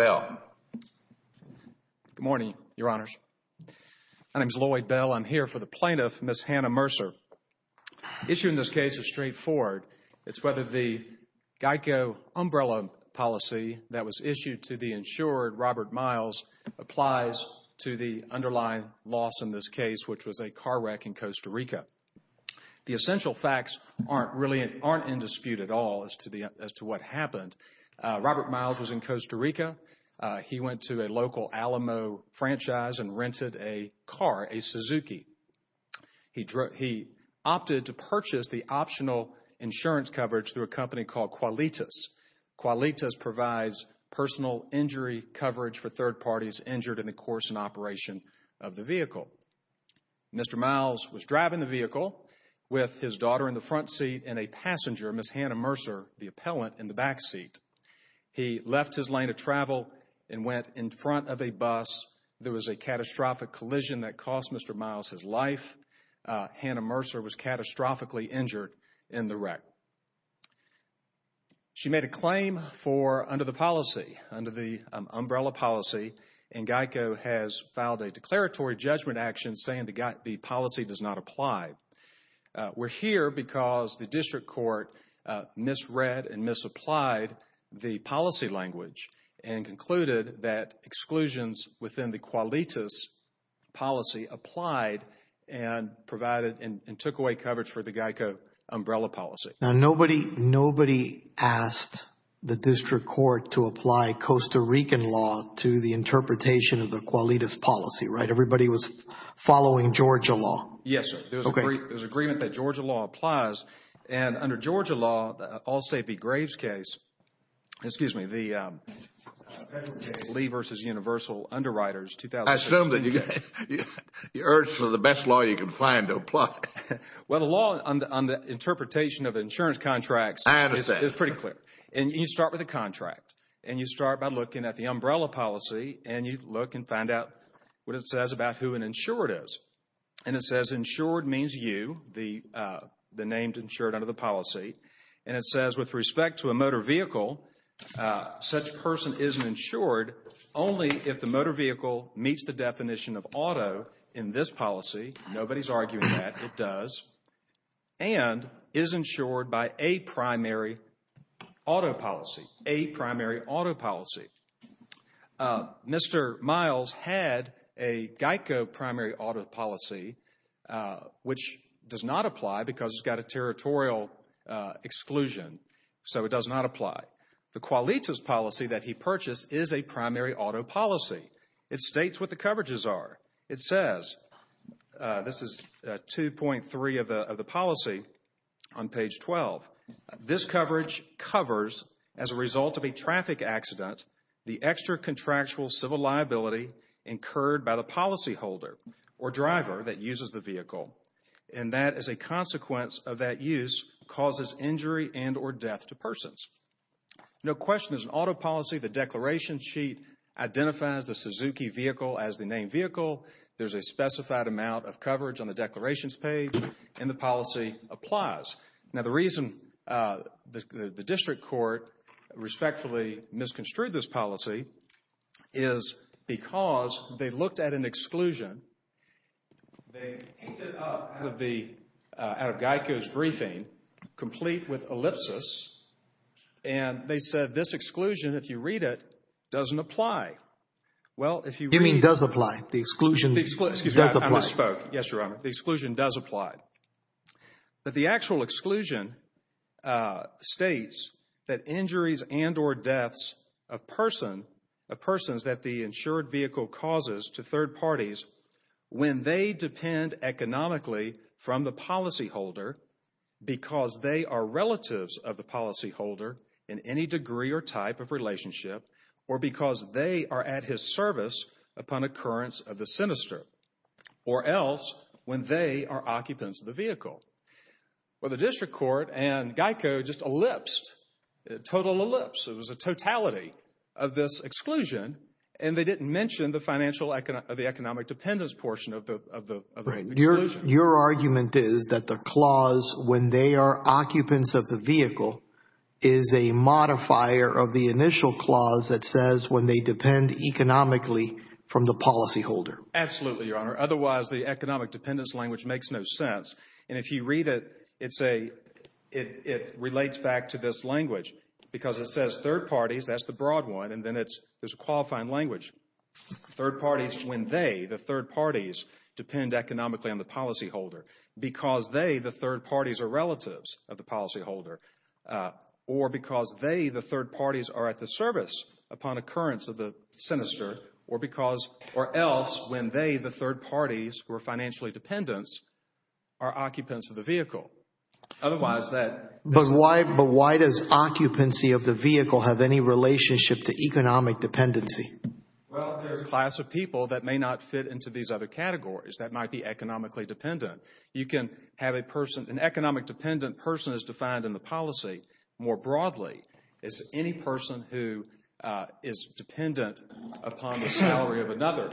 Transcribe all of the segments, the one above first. Good morning, Your Honors. My name is Lloyd Bell. I'm here for the plaintiff, Ms. Hanna Mercer. The issue in this case is straightforward. It's whether the GEICO umbrella policy that was issued to the insured, Robert Miles, applies to the underlying loss in this case, which was a car wreck in Costa Rica. The essential facts aren't in dispute at all as to what happened. Robert Miles was in Costa Rica. He went to a local Alamo franchise and rented a car, a Suzuki. He opted to purchase the optional insurance coverage through a company called Qualitas. Qualitas provides personal injury coverage for third parties injured in the course and operation of the vehicle. Mr. Miles was driving the vehicle with his backseat. He left his lane of travel and went in front of a bus. There was a catastrophic collision that cost Mr. Miles his life. Hanna Mercer was catastrophically injured in the wreck. She made a claim for under the policy, under the umbrella policy, and GEICO has filed a declaratory judgment action saying the policy does not apply. We're here because the District Court misread and misapplied the policy language and concluded that exclusions within the Qualitas policy applied and provided and took away coverage for the GEICO umbrella policy. Now, nobody asked the District Court to apply Costa Rican law to the interpretation of the Qualitas policy, right? Everybody was following Georgia law. Yes, sir. There's agreement that Georgia law applies. And under Georgia law, Allstate v. Graves case, excuse me, the Lee v. Universal Underwriters 2016 case. I assume that you urge for the best law you can find to apply. Well, the law on the interpretation of insurance contracts is pretty clear. And you start with the contract and you start by looking at the umbrella policy and you look and find out what it says about who an insured is. And it says insured means you, the named insured under the policy. And it says with respect to a motor vehicle, such person isn't insured only if the motor vehicle meets the definition of auto in this policy. Nobody's arguing that. It does. And is insured by a primary auto policy, a primary auto policy. Mr. Miles had a GEICO primary auto policy, which does not apply because it's got a territorial exclusion. So it does not apply. The Qualitas policy that he purchased is a primary auto policy. It states what the coverages are. It says, this is 2.3 of the policy on page 12. This coverage covers, as a result of a traffic accident, the extra contractual civil liability incurred by the policyholder or driver that uses the vehicle. And that as a consequence of that use causes injury and or death to persons. No question, there's an auto policy. The declaration sheet identifies the Suzuki vehicle as the named vehicle. There's a specified amount of coverage on the declarations page. And the policy applies. Now the reason the district court respectfully misconstrued this policy is because they looked at an exclusion. They picked it up out of GEICO's briefing, complete with ellipsis. And they said this does apply. The exclusion does apply. I misspoke. Yes, Your Honor. The exclusion does apply. But the actual exclusion states that injuries and or deaths of persons that the insured vehicle causes to third parties when they depend economically from the policyholder because they are relatives of the policyholder in any degree or type of relationship or because they are at his service upon occurrence of the sinister or else when they are occupants of the vehicle. Well, the district court and GEICO just ellipsed, a total ellipse. It was a totality of this exclusion. And they didn't mention the financial, the economic dependence portion of the exclusion. Your argument is that the clause when they are occupants of the vehicle is a modifier of the initial clause that says when they depend economically from the policyholder. Absolutely, Your Honor. Otherwise, the economic dependence language makes no sense. And if you read it, it's a it relates back to this language because it says third parties. That's the broad one. And then it's there's a qualifying language. Third parties when they, the third parties, depend economically on the policyholder because they, the third parties, are relatives of the policyholder or because they, the third parties, are at the service upon occurrence of the sinister or because or else when they, the third parties who are financially dependents, are occupants of the vehicle. Otherwise, that. But why does occupancy of the vehicle have any relationship to economic dependency? Well, there's a class of people that may not fit into these other categories that might be economically dependent. You can have a person, an economic dependent person is defined in the policy more broadly. It's any person who is dependent upon the salary of another.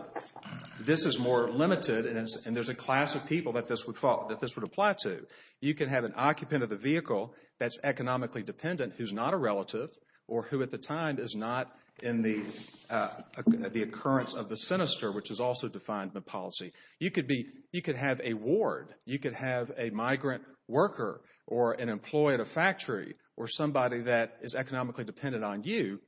This is more limited and there's a class of people that this would fall, that this would apply to. You can have an occupant of the vehicle that's economically dependent who's not a relative or who at the time is not in the occurrence of the sinister which is also defined in the policy. You could be, you could have a ward. You could have a migrant worker or an employee at a factory or somebody that is economically dependent on you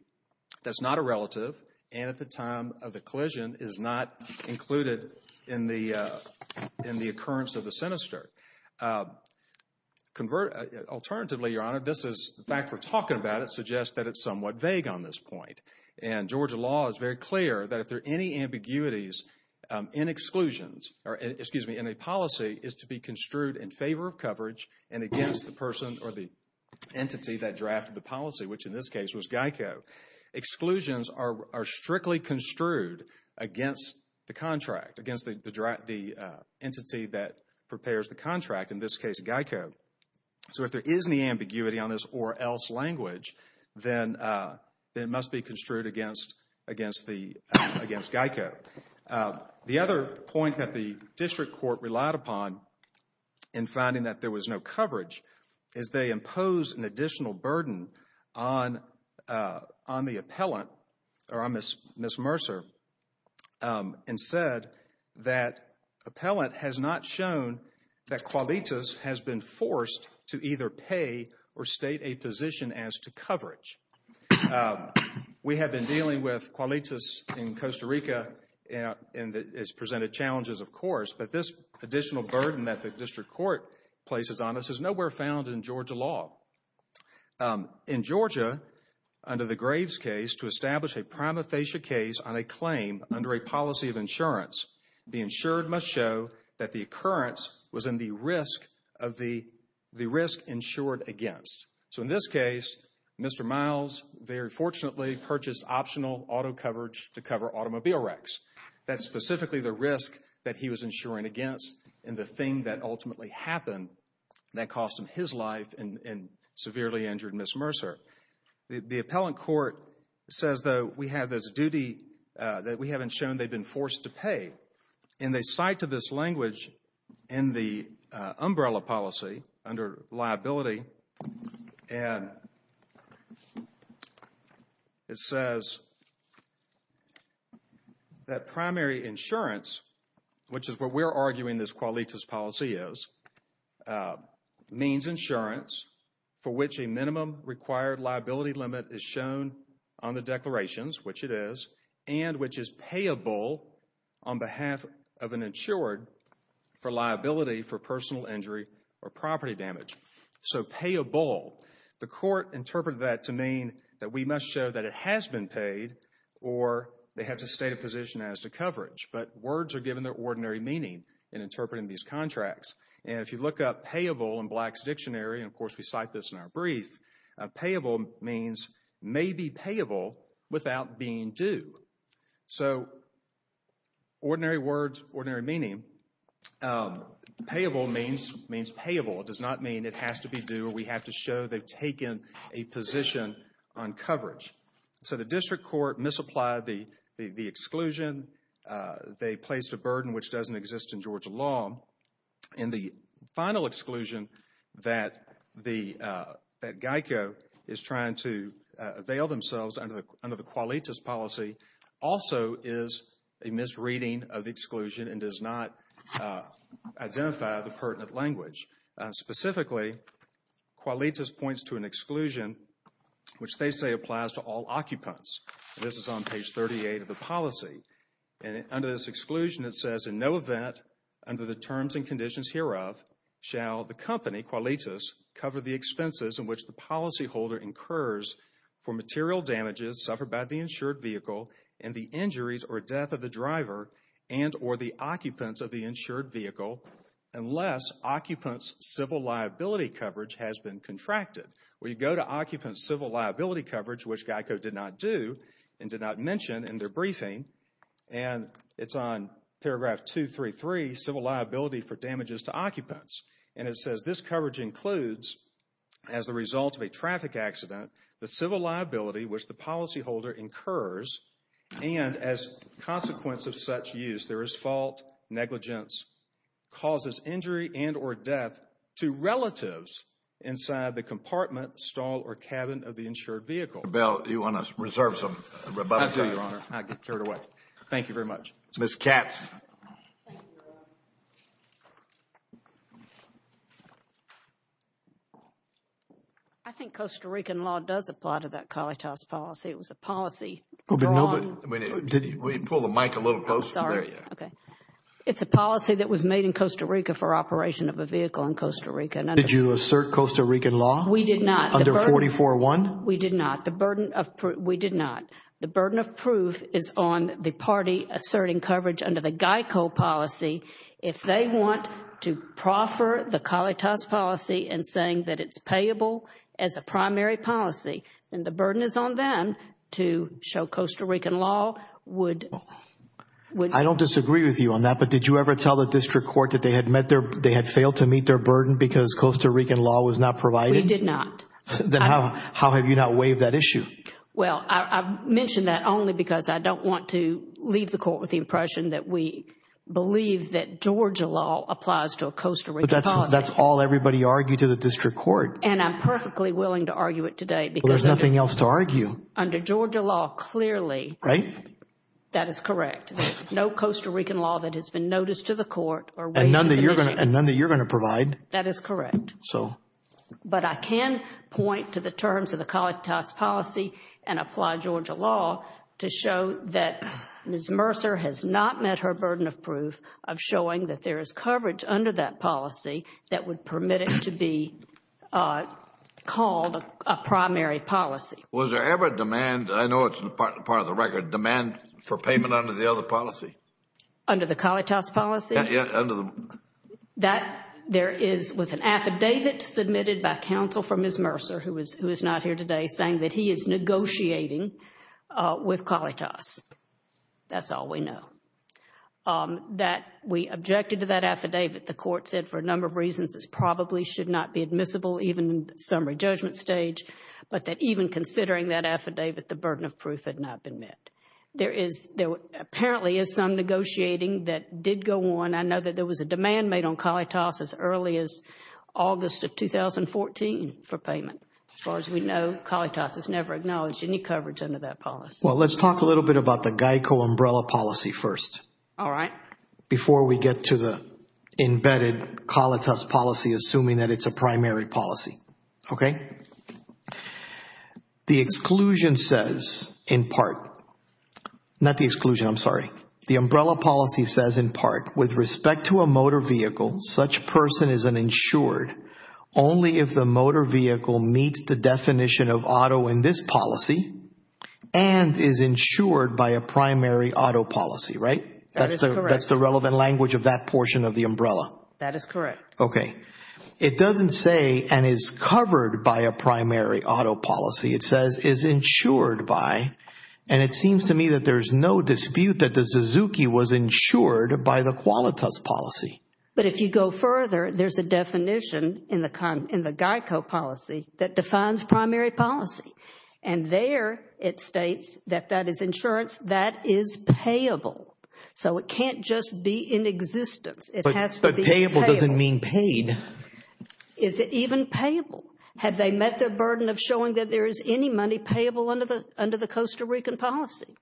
that's not a relative and at the time of the collision is not included in the occurrence of the sinister. Alternatively, Your Honor, this is, the fact we're talking about it suggests that it's somewhat vague on this point and Georgia law is very clear that if there are any ambiguities in exclusions or, excuse me, in a policy is to be construed in favor of coverage and against the person or the entity that drafted the policy which in this case was GEICO. Exclusions are strictly construed against the contract, against the entity that prepares the contract, in this case GEICO. So if there is any ambiguity on this or else language, then it must be construed against GEICO. The other point that the district court relied upon in finding that there was no coverage is they imposed an additional burden on the appellant or on Ms. Mercer and said that appellant has not shown that Qualitas has been forced to either pay or state a position as to coverage. We have been dealing with Qualitas in Costa Rica and it's presented challenges of course but this additional burden that the district court places on us is nowhere found in Georgia law. In Georgia, under the Graves case to establish a prima facie case on a claim under a policy of insurance, the insured must show that the occurrence was in the risk of the, the risk insured against. So in this case, Mr. Miles very fortunately purchased optional auto coverage to insuring against and the thing that ultimately happened that cost him his life and severely injured Ms. Mercer. The appellant court says though we have this duty that we haven't shown they've been forced to pay and they cite to this language in the umbrella policy under liability and it says that primary insurance which is what we're arguing this Qualitas policy is means insurance for which a minimum required liability limit is shown on the declarations which it is and which is payable on behalf of an insured for liability for personal injury or property damage. So payable, the court interpreted that to mean that we must show that it has been paid or they have to state a position as to coverage but words are given their ordinary meaning in interpreting these contracts and if you look up payable in Black's dictionary and of course we cite this in our brief, payable means may be payable without being due. So does not mean it has to be due or we have to show they've taken a position on coverage. So the district court misapplied the exclusion. They placed a burden which doesn't exist in Georgia law and the final exclusion that Geico is trying to avail themselves under the Qualitas policy also is a misreading of the exclusion and does not identify the pertinent language. Specifically Qualitas points to an exclusion which they say applies to all occupants. This is on page 38 of the policy and under this exclusion it says in no event under the terms and conditions hereof shall the company Qualitas cover the expenses in which the policyholder incurs for material damages suffered by the insured vehicle and the injuries or death of the driver and or the occupants of the insured vehicle unless occupants civil liability coverage has been contracted. We go to occupants civil liability coverage which Geico did not do and did not mention in their briefing and it's on paragraph 233 civil liability for the civil liability which the policyholder incurs and as consequence of such use there is fault negligence causes injury and or death to relatives inside the compartment stall or cabin of the insured vehicle. Bill you want to reserve some. I do your honor. I get carried away. Thank you very much. Miss Katz. Thank you. I think Costa Rican law does apply to that Qualitas policy. It was a policy. Will you pull the mic a little closer. It's a policy that was made in Costa Rica for operation of a vehicle in Costa Rica. Did you assert Costa Rican law? We did not. Under 44-1? We did not. The burden of proof, we did not. The burden of proof is on the party asserting coverage under the Geico policy if they want to proffer the Qualitas policy and saying that it's payable as a primary policy and the burden is on them to show Costa Rican law would. I don't disagree with you on that but did you ever tell the district court that they had met their, they had failed to meet their burden because Costa Rican law was not provided? We did not. Then how have you not waived that issue? Well, I mentioned that only because I don't want to leave the court with the impression that we believe that Georgia law applies to a Costa Rican policy. That's all everybody argued to the district court. And I'm perfectly willing to argue it today. There's nothing else to argue. Under Georgia law, clearly. Right. That is correct. There's no Costa Rican law that has been noticed to the court. And none that you're going to provide. That is correct. So. But I can point to the terms of the Qualitas policy and apply Georgia law to show that Ms. Mercer has not met her burden of proof of showing that there is coverage under that policy that would permit it to be called a primary policy. Was there ever demand, I know it's part of the record, demand for payment under the other policy? Under the Qualitas policy? Yeah, under the. That there is, was an affidavit submitted by counsel for Ms. Mercer, who is not here today, saying that he is negotiating with Qualitas. That's all we know. That we objected to that affidavit. The court said for a number of reasons, it probably should not be admissible, even in summary judgment stage. But that even considering that affidavit, the burden of proof had not been met. There is, there apparently is some negotiating that did go on. I know that there was a demand made on Qualitas as early as August of 2014 for payment. As far as we know, Qualitas has never acknowledged any coverage under that policy. Well, let's talk a little bit about the GEICO umbrella policy first. All right. Before we get to the embedded Qualitas policy, assuming that it's a primary policy, okay? The exclusion says, in part, not the exclusion, I'm sorry. The umbrella policy says, in part, with respect to a motor vehicle, such person is an insured only if the motor vehicle meets the definition of auto in this policy and is insured by a primary auto policy, right? That is correct. That's the relevant language of that portion of the umbrella. That is correct. Okay. It doesn't say and is covered by a primary auto policy. It says is insured by, and it seems to me that there's no dispute that the Suzuki was insured by the Qualitas policy. But if you go further, there's a definition in the GEICO policy that defines primary policy. And there it states that that is insurance that is payable. So it can't just be in existence. It has to be payable. But payable doesn't mean paid. Is it even payable? Have they met their burden of showing that there is any money payable under the Costa Rican policy?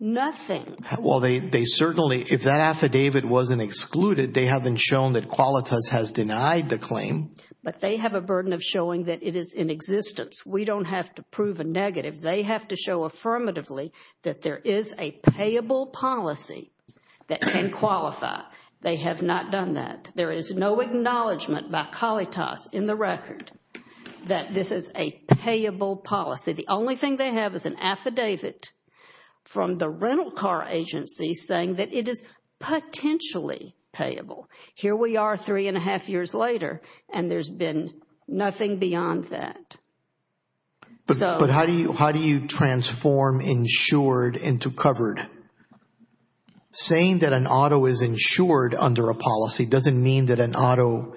Nothing. Well, they certainly, if that affidavit wasn't excluded, they haven't shown that Qualitas has denied the claim. But they have a burden of showing that it is in existence. We don't have to prove a negative. They have to show affirmatively that there is a payable policy that can qualify. They have not done that. There is no acknowledgement by Qualitas in the record that this is a payable policy. The only thing they have is an affidavit from the rental car agency saying that it is potentially payable. Here we are three and a half years later and there's been nothing beyond that. But how do you transform insured into covered? Saying that an auto is insured under a policy doesn't mean that an auto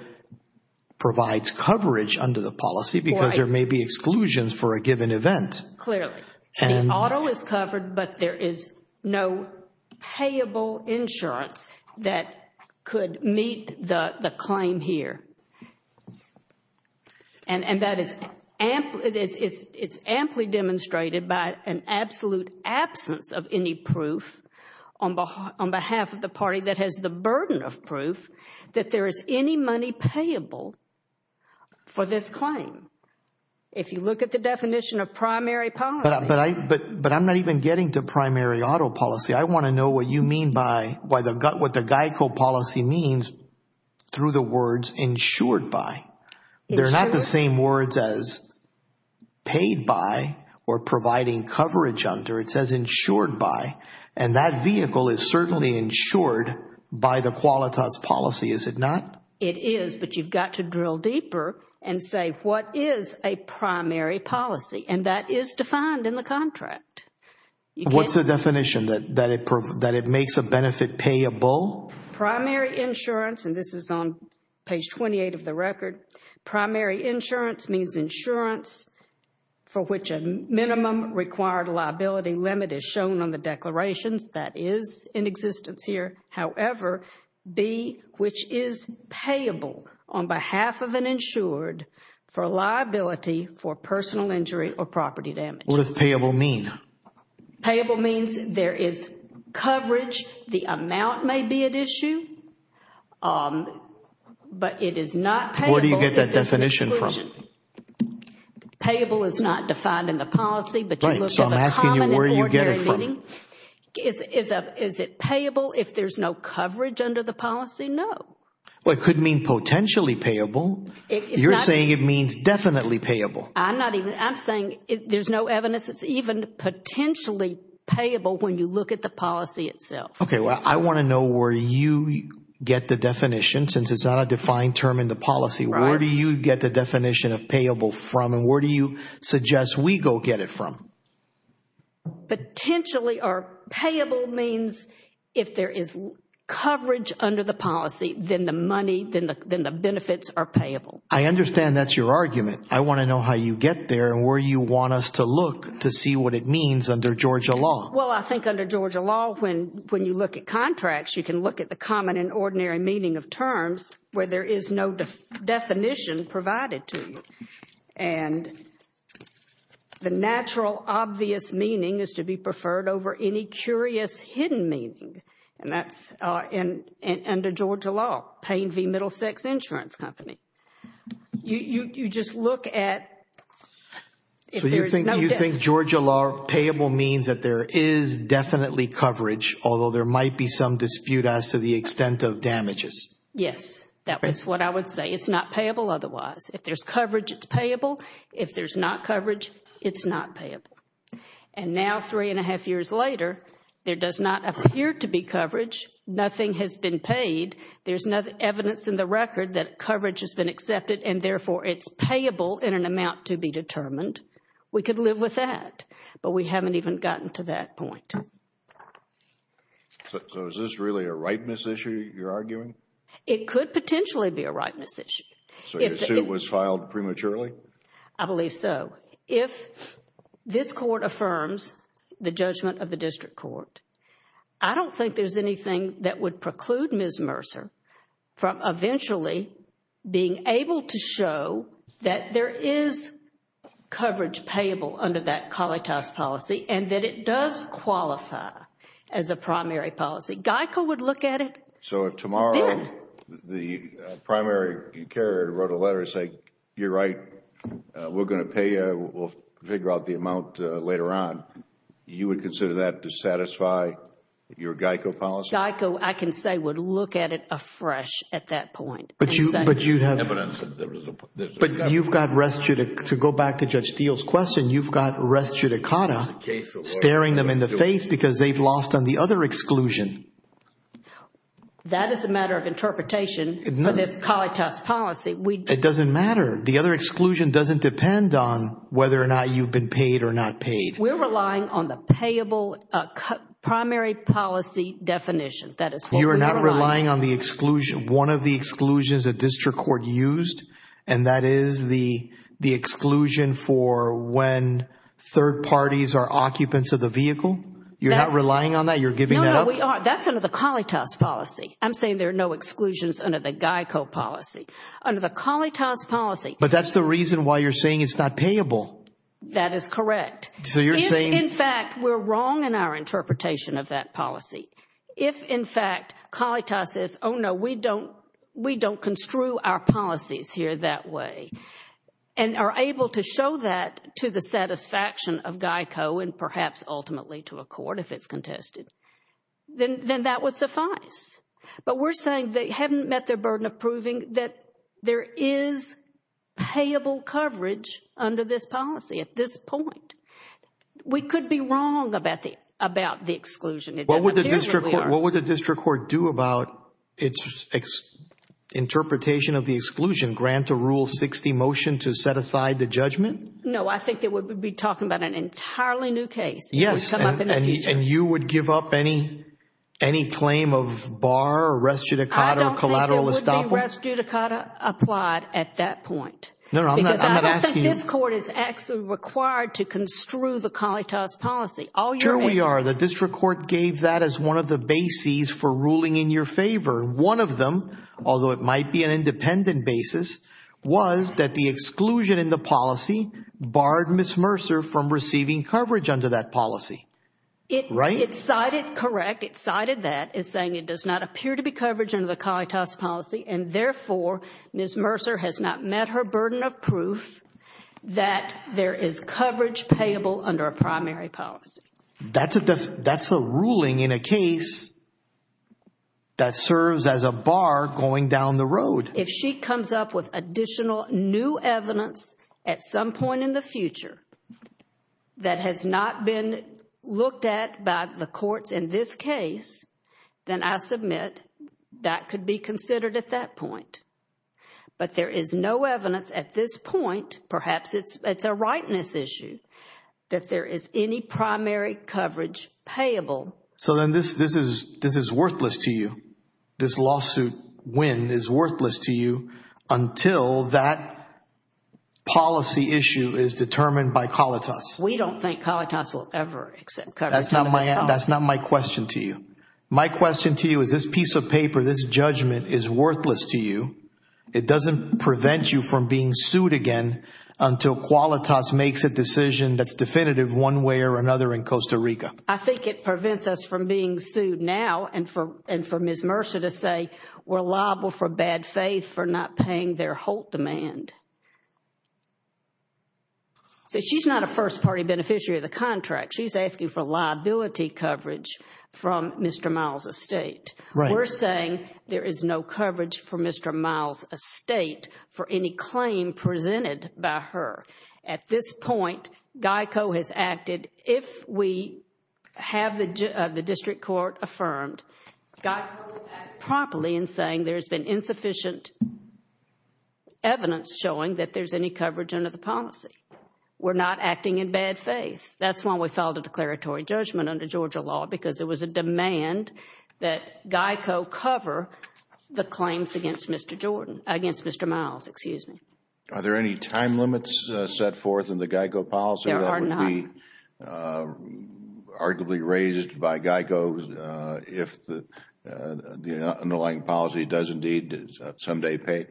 provides coverage under the policy because there may be exclusions for a given event. Clearly. The auto is covered but there is no payable insurance that could meet the claim here. And that is, it's amply demonstrated by an absolute absence of any proof on behalf of the party that has the burden of proof that there is any money payable for this claim. If you look at the definition of primary policy. But I'm not even getting to primary auto policy. I want to know what you mean by, what the GEICO policy means through the words insured by. They're not the same words as paid by or providing coverage under. It says insured by and that vehicle is certainly insured by the Qualitas policy, is it not? It is but you've got to drill deeper and say what is a primary policy? And that is defined in the contract. What's the definition that it makes a benefit payable? Primary insurance and this is on page 28 of the record. Primary insurance means insurance for which a minimum required liability limit is shown on the declarations that is in existence here. However, B, which is payable on behalf of an insured for liability for personal injury or property damage. What does payable mean? Payable means there is coverage. The amount may be at issue. But it is not payable. Where do you get that definition from? Payable is not defined in the policy. But you look at the common and ordinary meaning. So I'm asking you where you get it from. Is it payable if there's no coverage under the policy? No. Well, it could mean potentially payable. You're saying it means definitely payable. I'm not even, I'm saying there's no evidence. It's even potentially payable when you look at the policy itself. Well, I want to know where you get the definition since it's not a defined term in the policy. Where do you get the definition of payable from and where do you suggest we go get it from? Potentially or payable means if there is coverage under the policy, then the money, then the benefits are payable. I understand that's your argument. I want to know how you get there and where you want us to look to see what it means under Georgia law. Well, I think under Georgia law, when you look at contracts, you can look at the common and ordinary meaning of terms where there is no definition provided to you. And the natural obvious meaning is to be preferred over any curious hidden meaning. And that's under Georgia law, Payne v. Middlesex Insurance Company. You just look at... You think Georgia law payable means that there is definitely coverage, although there might be some dispute as to the extent of damages? Yes, that was what I would say. It's not payable otherwise. If there's coverage, it's payable. If there's not coverage, it's not payable. And now three and a half years later, there does not appear to be coverage. Nothing has been paid. There's no evidence in the record that coverage has been accepted and therefore it's payable in an amount to be determined. We could live with that, but we haven't even gotten to that point. So is this really a rightness issue you're arguing? It could potentially be a rightness issue. So your suit was filed prematurely? I believe so. If this court affirms the judgment of the district court, I don't think there's anything that would preclude Ms. Mercer from eventually being able to show that there is coverage payable under that COLETAS policy and that it does qualify as a primary policy. GEICO would look at it. So if tomorrow the primary carrier wrote a letter saying, you're right, we're going to pay you, we'll figure out the amount later on, you would consider that to satisfy your GEICO policy? I can say would look at it afresh at that point. But you've got, to go back to Judge Steele's question, you've got res judicata staring them in the face because they've lost on the other exclusion. That is a matter of interpretation for this COLETAS policy. It doesn't matter. The other exclusion doesn't depend on whether or not you've been paid or not paid. We're relying on the payable primary policy definition. That is what we're relying on. You're not relying on the exclusion, one of the exclusions that district court used, and that is the exclusion for when third parties are occupants of the vehicle? You're not relying on that? You're giving that up? That's under the COLETAS policy. I'm saying there are no exclusions under the GEICO policy. Under the COLETAS policy. But that's the reason why you're saying it's not payable. That is correct. In fact, we're wrong in our interpretation of that policy. If in fact COLETAS says, oh no, we don't construe our policies here that way and are able to show that to the satisfaction of GEICO and perhaps ultimately to a court if it's contested, then that would suffice. But we're saying they haven't met their burden of proving that there is payable coverage under this policy at this point. We could be wrong about the exclusion. It doesn't appear that we are. What would the district court do about its interpretation of the exclusion? Grant a Rule 60 motion to set aside the judgment? No, I think it would be talking about an entirely new case. Yes. And you would give up any claim of bar or res judicata or collateral estoppel? I don't think there would be res judicata applied at that point. No, I'm not asking you. This court is actually required to construe the COLETAS policy. Sure we are. The district court gave that as one of the bases for ruling in your favor. One of them, although it might be an independent basis, was that the exclusion in the policy barred Ms. Mercer from receiving coverage under that policy, right? It cited, correct. It cited that as saying it does not appear to be coverage under the COLETAS policy and therefore Ms. Mercer has not met her burden of proof that there is coverage payable under a primary policy. That's a ruling in a case that serves as a bar going down the road. If she comes up with additional new evidence at some point in the future that has not been looked at by the courts in this case, then I submit that could be considered at that point. But there is no evidence at this point, perhaps it's a rightness issue, that there is any primary coverage payable. So then this is worthless to you. This lawsuit win is worthless to you until that policy issue is determined by COLETAS. We don't think COLETAS will ever accept coverage under this policy. That's not my question to you. My question to you is this piece of paper, this judgment is worthless to you it doesn't prevent you from being sued again until COLETAS makes a decision that's definitive one way or another in Costa Rica. I think it prevents us from being sued now and for Ms. Mercer to say we're liable for bad faith for not paying their Holt demand. She's not a first party beneficiary of the contract. We're saying there is no coverage for Mr. Miles' estate for any claim presented by her. At this point, GEICO has acted, if we have the district court affirmed, GEICO has acted properly in saying there's been insufficient evidence showing that there's any coverage under the policy. We're not acting in bad faith. That's why we filed a declaratory judgment under Georgia law because it was a demand that GEICO cover the claims against Mr. Miles. Excuse me. Are there any time limits set forth in the GEICO policy that would be arguably raised by GEICO if the underlying policy does indeed someday pay?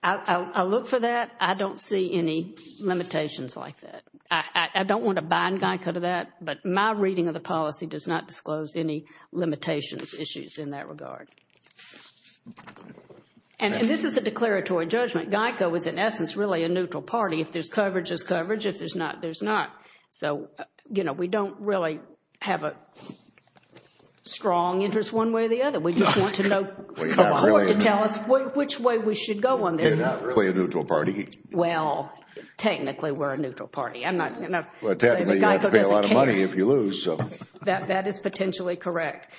I'll look for that. I don't see any limitations like that. I don't want to bind GEICO to that, but my reading of the policy does not disclose any limitations, issues in that regard. And this is a declaratory judgment. GEICO is, in essence, really a neutral party. If there's coverage, there's coverage. If there's not, there's not. So, you know, we don't really have a strong interest one way or the other. We just want to know to tell us which way we should go on this. You're not really a neutral party. Well, technically, we're a neutral party. Well, technically, you have to pay a lot of money if you lose. That is potentially correct.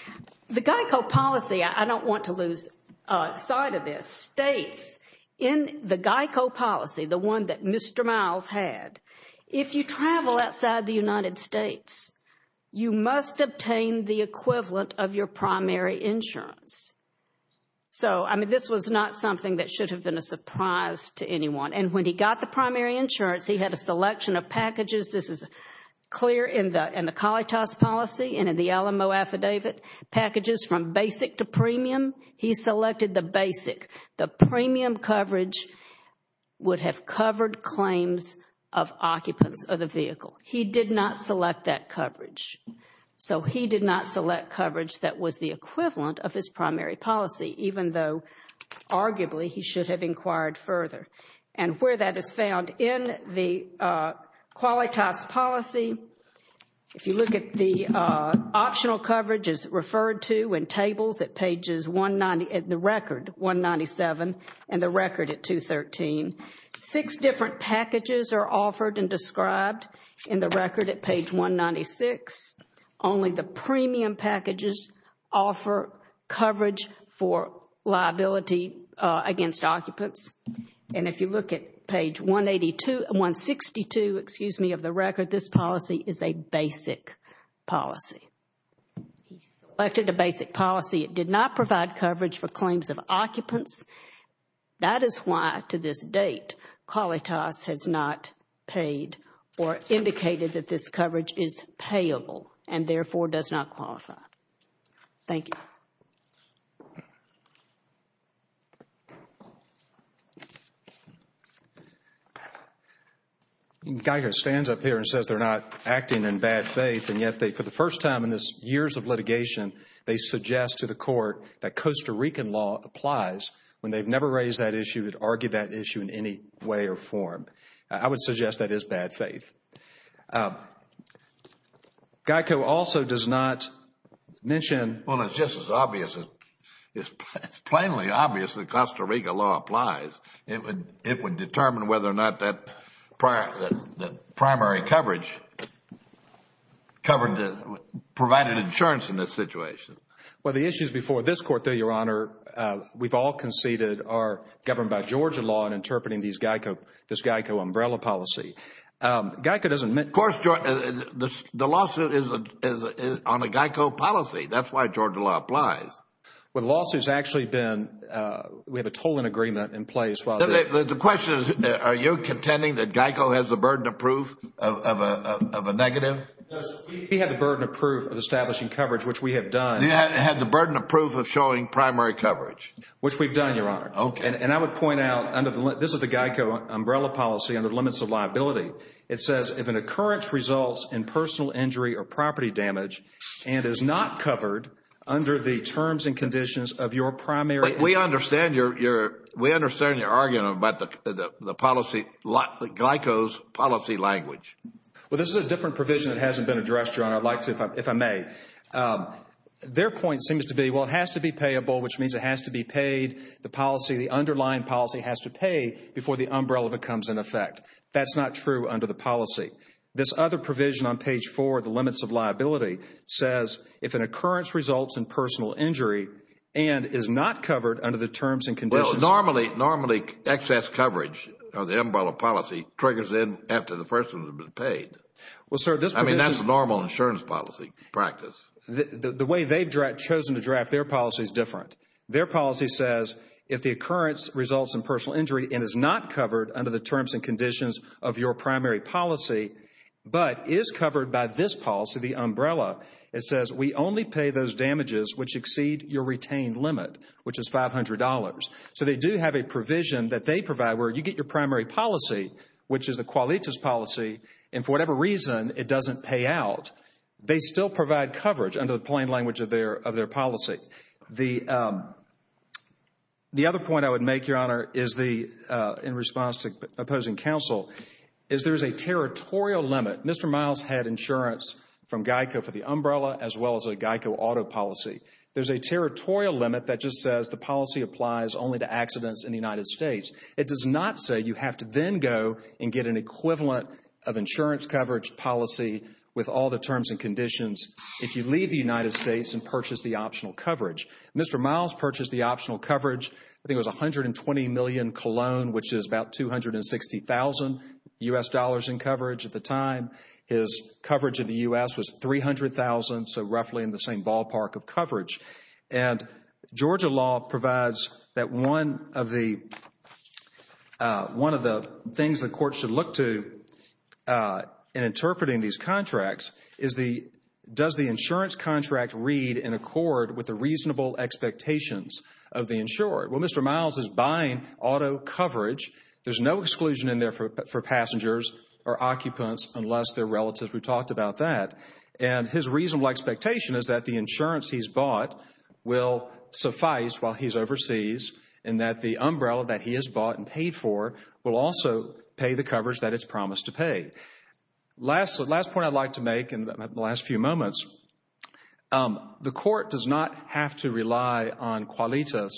The GEICO policy, I don't want to lose sight of this, states in the GEICO policy, the one that Mr. Miles had, if you travel outside the United States, you must obtain the equivalent of your primary insurance. So, I mean, this was not something that should have been a surprise to anyone. And when he got the primary insurance, he had a selection of packages. This is clear in the COLETAS policy and in the LMO affidavit. Packages from basic to premium. He selected the basic. The premium coverage would have covered claims of occupants of the vehicle. He did not select that coverage. So, he did not select coverage that was the equivalent of his primary policy, even though, arguably, he should have inquired further. And where that is found in the COLETAS policy, if you look at the optional coverage is referred to in tables at pages 190, the record 197, and the record at 213. Six different packages are offered and described in the record at page 196. Only the premium packages offer coverage for liability against occupants. And if you look at page 162 of the record, this policy is a basic policy. He selected a basic policy. It did not provide coverage for claims of occupants. That is why, to this date, COLETAS has not paid or indicated that this coverage is payable and, therefore, does not qualify. Thank you. I mean, Geico stands up here and says they're not acting in bad faith, and yet they, for the first time in this years of litigation, they suggest to the court that Costa Rican law applies when they've never raised that issue or argued that issue in any way or form. I would suggest that is bad faith. Geico also does not mention. Well, it's just as obvious, it's plainly obvious that Costa Rican law applies. It would determine whether or not that primary coverage provided insurance in this situation. Well, the issues before this court, though, Your Honor, we've all conceded are governed by Georgia law in interpreting this Geico umbrella policy. Geico doesn't mention. Of course, the lawsuit is on a Geico policy. That's why Georgia law applies. Well, the lawsuit's actually been, we have a tolling agreement in place. The question is, are you contending that Geico has the burden of proof of a negative? We have the burden of proof of establishing coverage, which we have done. You had the burden of proof of showing primary coverage. Which we've done, Your Honor. And I would point out, this is the Geico umbrella policy under the limits of liability. It says, if an occurrence results in personal injury or property damage and is not covered under the terms and conditions of your primary. We understand you're arguing about the policy, Geico's policy language. Well, this is a different provision that hasn't been addressed, Your Honor. I'd like to, if I may. Their point seems to be, well, it has to be payable, which means it has to be paid. The policy, the underlying policy has to pay before the umbrella becomes in effect. That's not true under the policy. This other provision on page 4, the limits of liability, says, if an occurrence results in personal injury and is not covered under the terms and conditions. Well, normally, excess coverage of the umbrella policy triggers in after the first one has been paid. I mean, that's the normal insurance policy practice. The way they've chosen to draft their policy is different. Their policy says, if the occurrence results in personal injury and is not covered under the terms and conditions of your primary policy, but is covered by this policy, the umbrella, it says, we only pay those damages which exceed your retained limit, which is $500. So they do have a provision that they provide where you get your primary policy, which is a qualitas policy, and for whatever reason, it doesn't pay out. They still provide coverage under the plain language of their policy. The other point I would make, Your Honor, in response to opposing counsel, is there is a territorial limit. Mr. Miles had insurance from GEICO for the umbrella as well as a GEICO auto policy. There's a territorial limit that just says the policy applies only to accidents in the United States. It does not say you have to then go and get an equivalent of insurance coverage policy with all the terms and conditions if you leave the United States and purchase the optional coverage. Mr. Miles purchased the optional coverage. I think it was $120 million cologne, which is about $260,000 U.S. dollars in coverage at the time. His coverage in the U.S. was $300,000, so roughly in the same ballpark of coverage. And Georgia law provides that one of the things the court should look to in interpreting these contracts is the, does the insurance contract read in accord with the reasonable expectations of the insurer? Well, Mr. Miles is buying auto coverage. There's no exclusion in there for passengers or occupants unless they're relatives. We talked about that. And his reasonable expectation is that the insurance he's bought will suffice while he's overseas and that the umbrella that he has bought and paid for will also pay the coverage that it's promised to pay. Last point I'd like to make in the last few moments, the court does not have to rely on qualitas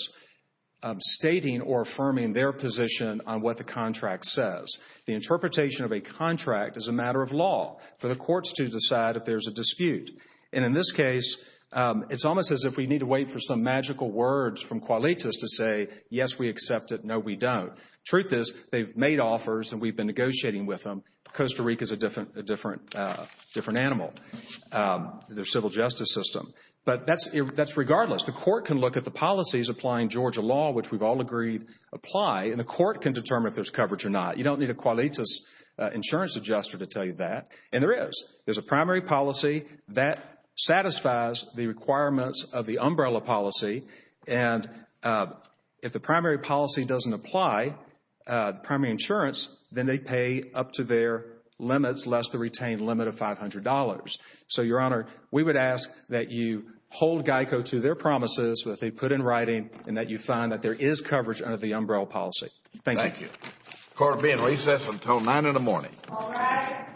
stating or affirming their position on what the contract says. The interpretation of a contract is a matter of law for the courts to decide if there's a dispute. And in this case, it's almost as if we need to wait for some magical words from qualitas to say, yes, we accept it, no, we don't. Truth is, they've made offers and we've been negotiating with them. Costa Rica is a different animal, their civil justice system. But that's regardless. The court can look at the policies applying Georgia law, which we've all agreed apply, and the court can determine if there's coverage or not. You don't need a qualitas insurance adjuster to tell you that. And there is. There's a primary policy that satisfies the requirements of the umbrella policy. And if the primary policy doesn't apply, primary insurance, then they pay up to their limits, less the retained limit of $500. So, Your Honor, we would ask that you hold GEICO to their promises that they put in writing and that you find that there is coverage under the umbrella policy. Thank you. Thank you. Court will be in recess until nine in the morning. All rise.